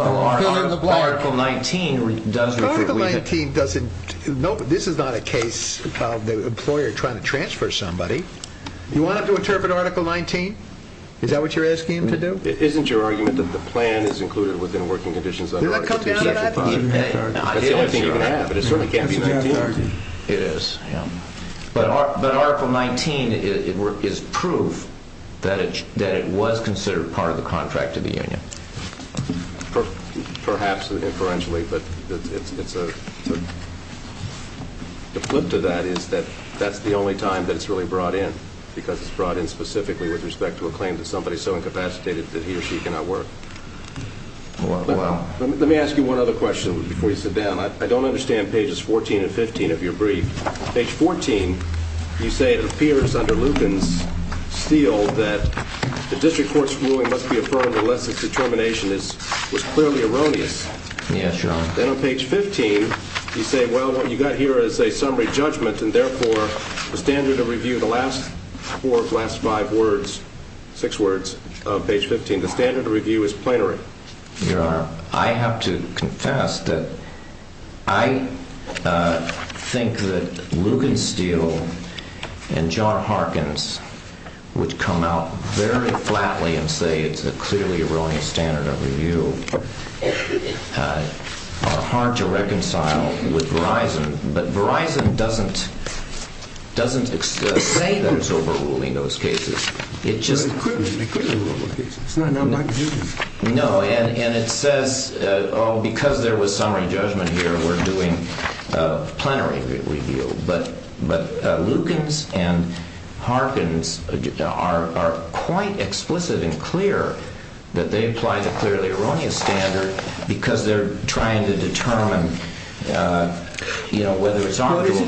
Article 19 does refer to… Article 19 doesn't… This is not a case of the employer trying to transfer somebody. You want him to interpret Article 19? Is that what you're asking him to do? Isn't your argument that the plan is included within working conditions under Article 19? That's the only thing you can have, but it certainly can't be 19. It is. But Article 19 is proof that it was considered part of the contract to the union. Perhaps inferentially, but it's a… The flip to that is that that's the only time that it's really brought in, because it's brought in specifically with respect to a claim that somebody is so incapacitated that he or she cannot work. Let me ask you one other question before you sit down. I don't understand pages 14 and 15 of your brief. Page 14, you say it appears under Lucan's seal that the district court's ruling must be affirmed unless its determination is clearly erroneous. Yes, Your Honor. Then on page 15, you say, well, what you've got here is a summary judgment, and therefore the standard of review, the last four of the last five words, six words of page 15, the standard of review is plenary. Your Honor, I have to confess that I think that Lucan's seal and John Harkin's, which come out very flatly and say it's a clearly erroneous standard of review, are hard to reconcile with Verizon. But Verizon doesn't say that it's overruling those cases. They could be overruling those cases. It's not an unmarked judgment. No, and it says, oh, because there was summary judgment here, we're doing a plenary review. But Lucan's and Harkin's are quite explicit and clear that they apply the clearly erroneous standard because they're trying to determine whether it's arbitral. But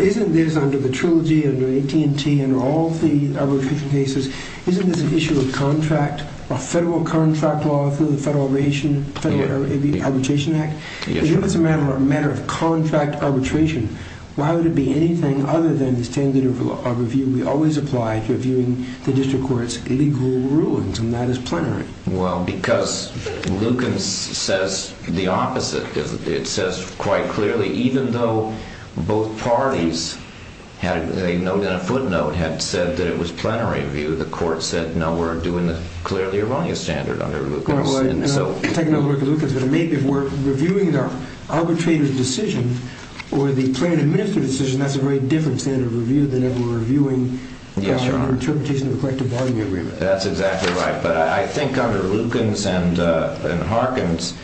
isn't this under the trilogy, under AT&T, under all the arbitration cases, isn't this an issue of contract, a federal contract law through the Federal Arbitration Act? If it's a matter of contract arbitration, why would it be anything other than the standard of review? We always apply to reviewing the district court's illegal rulings, and that is plenary. Well, because Lucan's says the opposite. It says quite clearly, even though both parties had a note and a footnote had said that it was plenary review, the court said, no, we're doing the clearly erroneous standard under Lucan's. Take another look at Lucan's, but maybe if we're reviewing the arbitrator's decision or the plan administrator's decision, that's a very different standard of review than if we're reviewing an interpretation of a collective bargaining agreement. That's exactly right, but I think under Lucan's and Harkin's,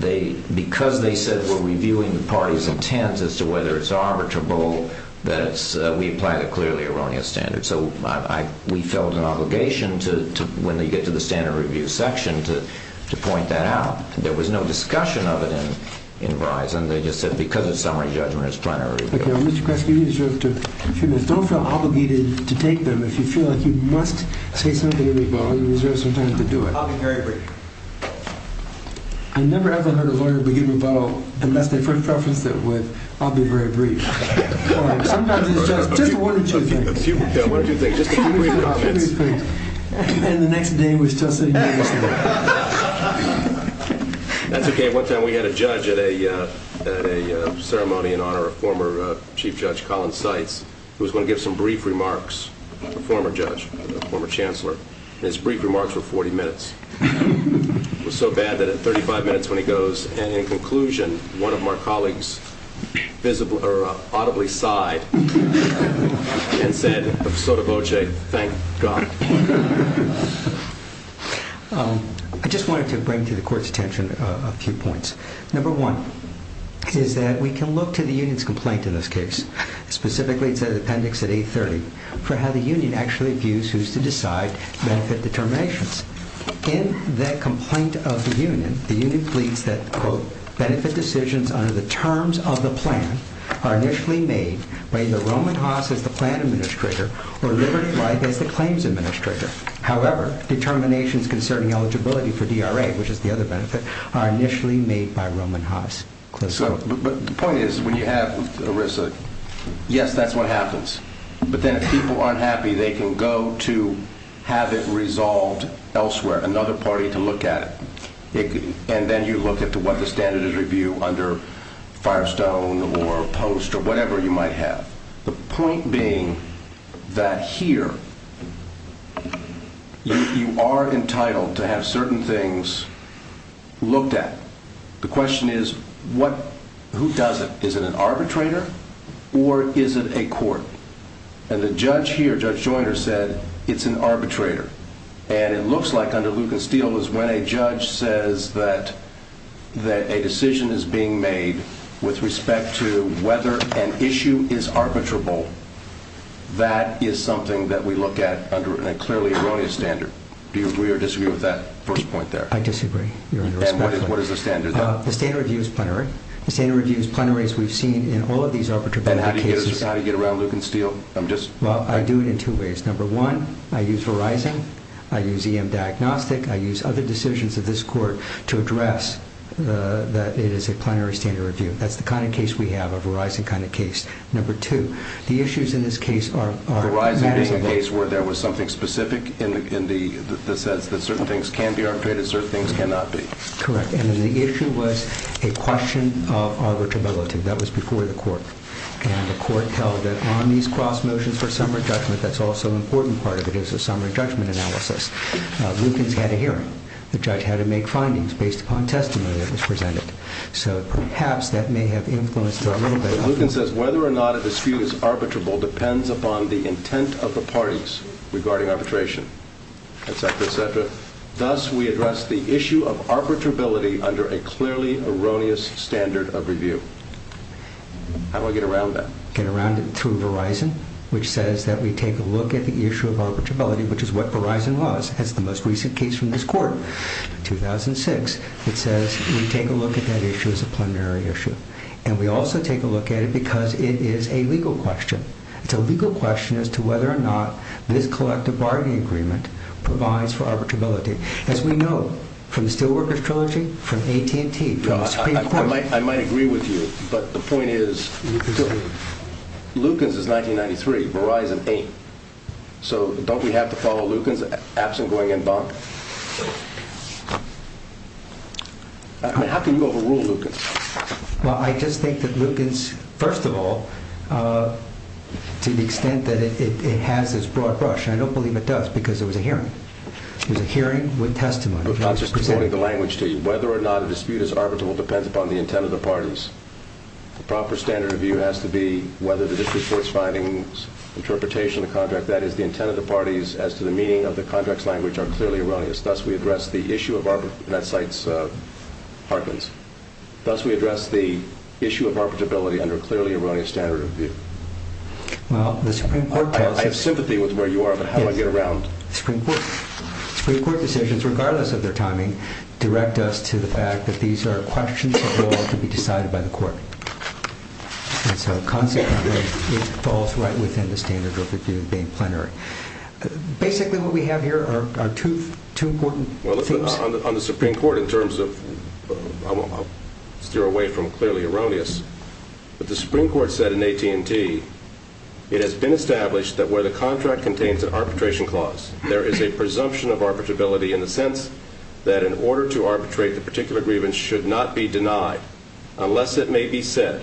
because they said we're reviewing the party's intent as to whether it's arbitrable, we apply the clearly erroneous standard. So we felt an obligation to, when they get to the standard review section, to point that out. There was no discussion of it in Verizon. They just said, because it's summary judgment, it's plenary review. Mr. Kresge, you deserve a few minutes. Don't feel obligated to take them. If you feel like you must say something in rebuttal, you deserve some time to do it. I'll be very brief. I never ever heard a lawyer begin rebuttal unless they first referenced it with, I'll be very brief. Sometimes it's just one or two things. Yeah, one or two things. Just a few brief comments. And the next day was just a unanimous vote. That's OK. One time we had a judge at a ceremony in honor of former Chief Judge Colin Seitz, who was going to give some brief remarks, a former judge, a former chancellor. And his brief remarks were 40 minutes. It was so bad that it was 35 minutes when he goes. And in conclusion, one of my colleagues visibly or audibly sighed and said, Sotovoce, thank God. I just wanted to bring to the Court's attention a few points. Number one is that we can look to the union's complaint in this case, specifically to the appendix at 830, for how the union actually views who's to decide benefit determinations. In the complaint of the union, the union pleads that, quote, benefit decisions under the terms of the plan are initially made by either Roman Haas as the plan administrator or Liberty Life as the claims administrator. However, determinations concerning eligibility for DRA, which is the other benefit, are initially made by Roman Haas. But the point is, when you have ERISA, yes, that's what happens. But then if people aren't happy, they can go to have it resolved elsewhere, another party to look at it. And then you look at what the standards review under Firestone or Post or whatever you might have. The point being that here, you are entitled to have certain things looked at. The question is, who does it? Is it an arbitrator or is it a court? And the judge here, Judge Joyner, said it's an arbitrator. And it looks like under Luke and Steele is when a judge says that a decision is being made with respect to whether an issue is arbitrable. That is something that we look at under a clearly erroneous standard. Do you agree or disagree with that first point there? I disagree. And what is the standard? The standard review is plenary. The standard review is plenary, as we've seen in all of these arbitrable cases. And how do you get around Luke and Steele? Well, I do it in two ways. Number one, I use Verizon. I use EM Diagnostic. I use other decisions of this court to address that it is a plenary standard review. That's the kind of case we have, a Verizon kind of case. Number two, the issues in this case are manageable. Is there a case where there was something specific in the sense that certain things can be arbitrated, certain things cannot be? Correct. And the issue was a question of arbitrability. That was before the court. And the court held that on these cross motions for summary judgment, that's also an important part of it, is a summary judgment analysis. Luke has had a hearing. The judge had to make findings based upon testimony that was presented. So perhaps that may have influenced a little bit. Luke says whether or not a dispute is arbitrable depends upon the intent of the parties regarding arbitration, et cetera, et cetera. Thus, we address the issue of arbitrability under a clearly erroneous standard of review. How do I get around that? Get around it through Verizon, which says that we take a look at the issue of arbitrability, which is what Verizon was. That's the most recent case from this court, 2006. It says we take a look at that issue as a plenary issue. And we also take a look at it because it is a legal question. It's a legal question as to whether or not this collective bargaining agreement provides for arbitrability. As we know from the Steelworkers Trilogy, from AT&T. I might agree with you. But the point is, Lukens is 1993. Verizon ain't. So don't we have to follow Lukens absent going in bond? How can you overrule Lukens? Well, I just think that Lukens, first of all, to the extent that it has this broad brush, and I don't believe it does because it was a hearing. It was a hearing with testimony. I'm just reporting the language to you. Whether or not a dispute is arbitrable depends upon the intent of the parties. The proper standard of view has to be whether the district court's findings, interpretation of the contract, that is the intent of the parties as to the meaning of the contract's language are clearly erroneous. Thus, we address the issue of arbitrability, and that cites Harkins. Thus, we address the issue of arbitrability under a clearly erroneous standard of view. I have sympathy with where you are, but how do I get around? Supreme Court decisions, regardless of their timing, direct us to the fact that these are questions that will have to be decided by the court. And so consequently, it falls right within the standard of review being plenary. Basically, what we have here are two important things. On the Supreme Court in terms of, I'll steer away from clearly erroneous, but the Supreme Court said in AT&T, it has been established that where the contract contains an arbitration clause, there is a presumption of arbitrability in the sense that in order to arbitrate, the particular grievance should not be denied unless it may be said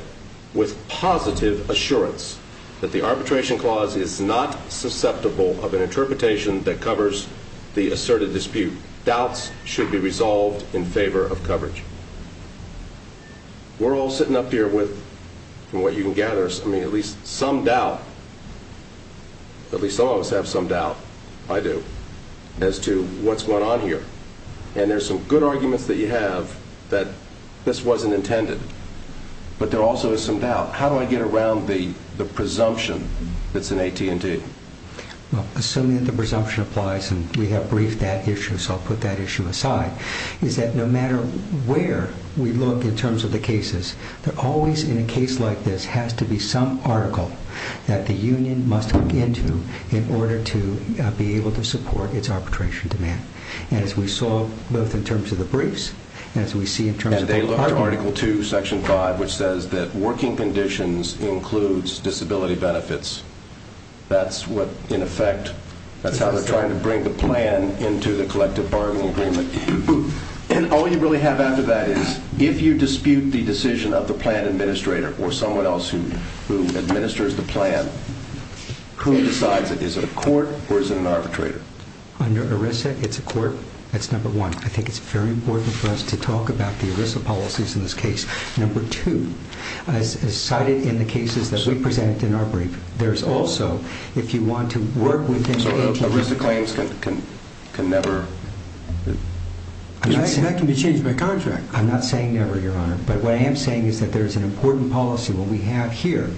with positive assurance that the arbitration clause is not susceptible of an interpretation that covers the asserted dispute. Doubts should be resolved in favor of coverage. We're all sitting up here with, from what you can gather, at least some doubt, at least some of us have some doubt, I do, as to what's going on here. And there's some good arguments that you have that this wasn't intended, but there also is some doubt. How do I get around the presumption that's in AT&T? Assuming that the presumption applies and we have briefed that issue, so I'll put that issue aside, is that no matter where we look in terms of the cases, there always in a case like this has to be some article that the union must look into in order to be able to support its arbitration demand. And as we saw both in terms of the briefs and as we see in terms of the article. And they looked at Article 2, Section 5, which says that working conditions includes disability benefits. That's what, in effect, that's how they're trying to bring the plan into the collective bargaining agreement. And all you really have after that is if you dispute the decision of the plan administrator or someone else who administers the plan, who decides it? Is it a court or is it an arbitrator? Under ERISA, it's a court. That's number one. I think it's very important for us to talk about the ERISA policies in this case. Number two, as cited in the cases that we present in our brief, there's also, if you want to work with So ERISA claims can never? That can be changed by contract. I'm not saying never, Your Honor, but what I am saying is that there's an important policy. What we have here,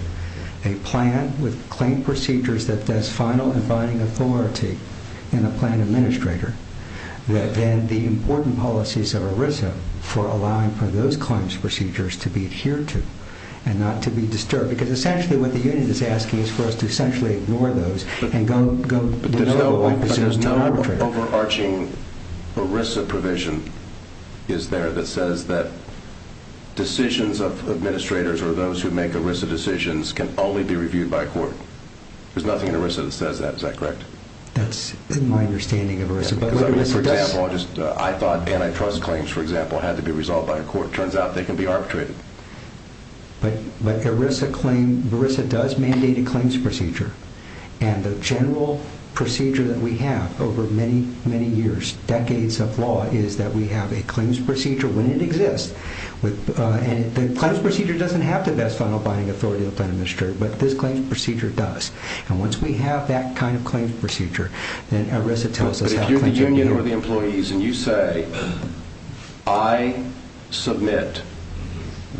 a plan with claim procedures that does final and binding authority in the plan administrator, then the important policies of ERISA for allowing for those claims procedures to be adhered to and not to be disturbed. Because essentially what the union is asking is for us to essentially ignore those and go But there's no overarching ERISA provision, is there, that says that decisions of administrators or those who make ERISA decisions can only be reviewed by court? There's nothing in ERISA that says that. Is that correct? That's in my understanding of ERISA. For example, I thought antitrust claims, for example, had to be resolved by a court. It turns out they can be arbitrated. But ERISA does mandate a claims procedure. And the general procedure that we have over many, many years, decades of law, is that we have a claims procedure when it exists. And the claims procedure doesn't have the best final binding authority in the plan administrator, but this claims procedure does. And once we have that kind of claims procedure, then ERISA tells us how claims should be handled. But if you're the union or the employees and you say, I submit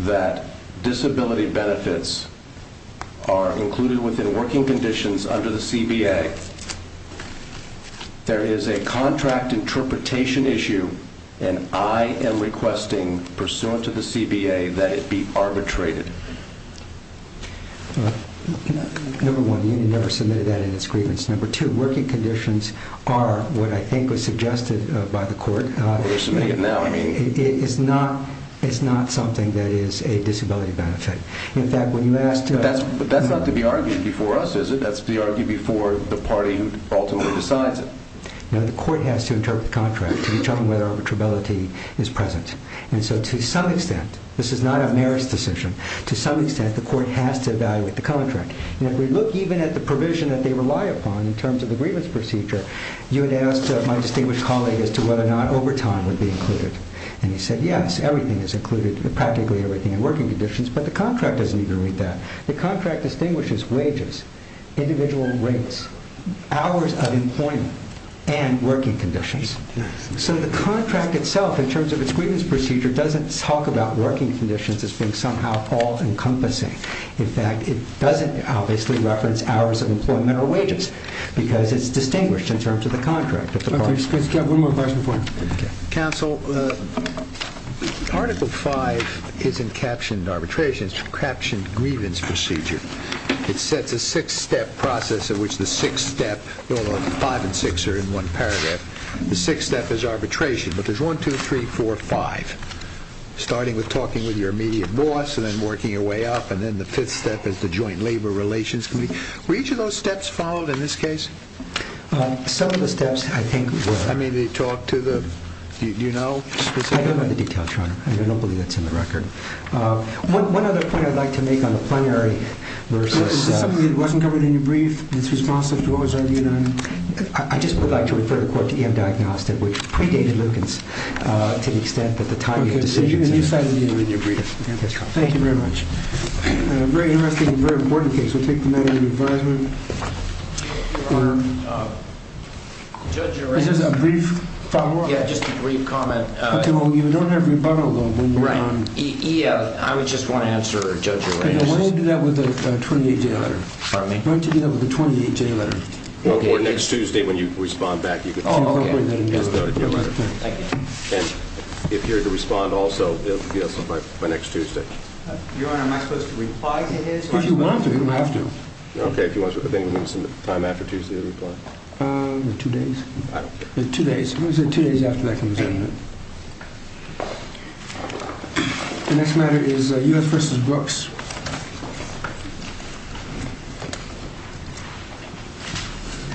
that disability benefits are included within working conditions under the CBA, there is a contract interpretation issue, and I am requesting pursuant to the CBA that it be arbitrated. Number one, the union never submitted that in its grievance. Number two, working conditions are what I think was suggested by the court. They're submitting it now. It's not something that is a disability benefit. In fact, when you ask to... But that's not to be argued before us, is it? That's to be argued before the party who ultimately decides it. No, the court has to interpret the contract to determine whether arbitrability is present. And so to some extent, this is not an ERISA decision. To some extent, the court has to evaluate the contract. And if we look even at the provision that they rely upon in terms of the grievance procedure, you would ask my distinguished colleague as to whether or not overtime would be included. And he said, yes, everything is included, practically everything in working conditions, but the contract doesn't even read that. The contract distinguishes wages, individual rates, hours of employment, and working conditions. So the contract itself, in terms of its grievance procedure, doesn't talk about working conditions as being somehow all-encompassing. In fact, it doesn't obviously reference hours of employment or wages because it's distinguished in terms of the contract. Let's get one more question for him. Counsel, Article 5 isn't captioned arbitration. It's a captioned grievance procedure. It sets a six-step process in which the six step... Five and six are in one paragraph. The sixth step is arbitration, but there's one, two, three, four, five, starting with talking with your immediate boss and then working your way up, and then the fifth step is the joint labor relations committee. Were each of those steps followed in this case? Some of the steps, I think, were. I mean, did they talk to the... do you know specifically? I don't have the details, Your Honor. I don't believe that's in the record. One other point I'd like to make on the plenary versus... It wasn't covered in your brief. It's responsive to what was argued. I just would like to refer the court to E.M. Diagnostic, which predated Lugin's to the extent that the timing of the decision... Okay, so you decided to do it in your brief. Thank you very much. Very interesting and very important case. We'll take the matter into advisement. Is this a brief follow-up? Yeah, just a brief comment. Okay, well, you don't have rebuttal, though, when you're on... I just want to answer Judge O'Rourke's... Why don't you do that with a 28-J letter? Pardon me? Why don't you do that with a 28-J letter? Well, for next Tuesday, when you respond back, you can... Oh, okay. Thank you. And if you're to respond also, it'll be by next Tuesday. Your Honor, am I supposed to reply to his? If you want to, you don't have to. Okay, if you want to. But then you'll need some time after Tuesday to reply. Two days. I don't care. Two days. I'm going to say two days after that comes in. The next matter is U.S. v. Brooks. Thank you.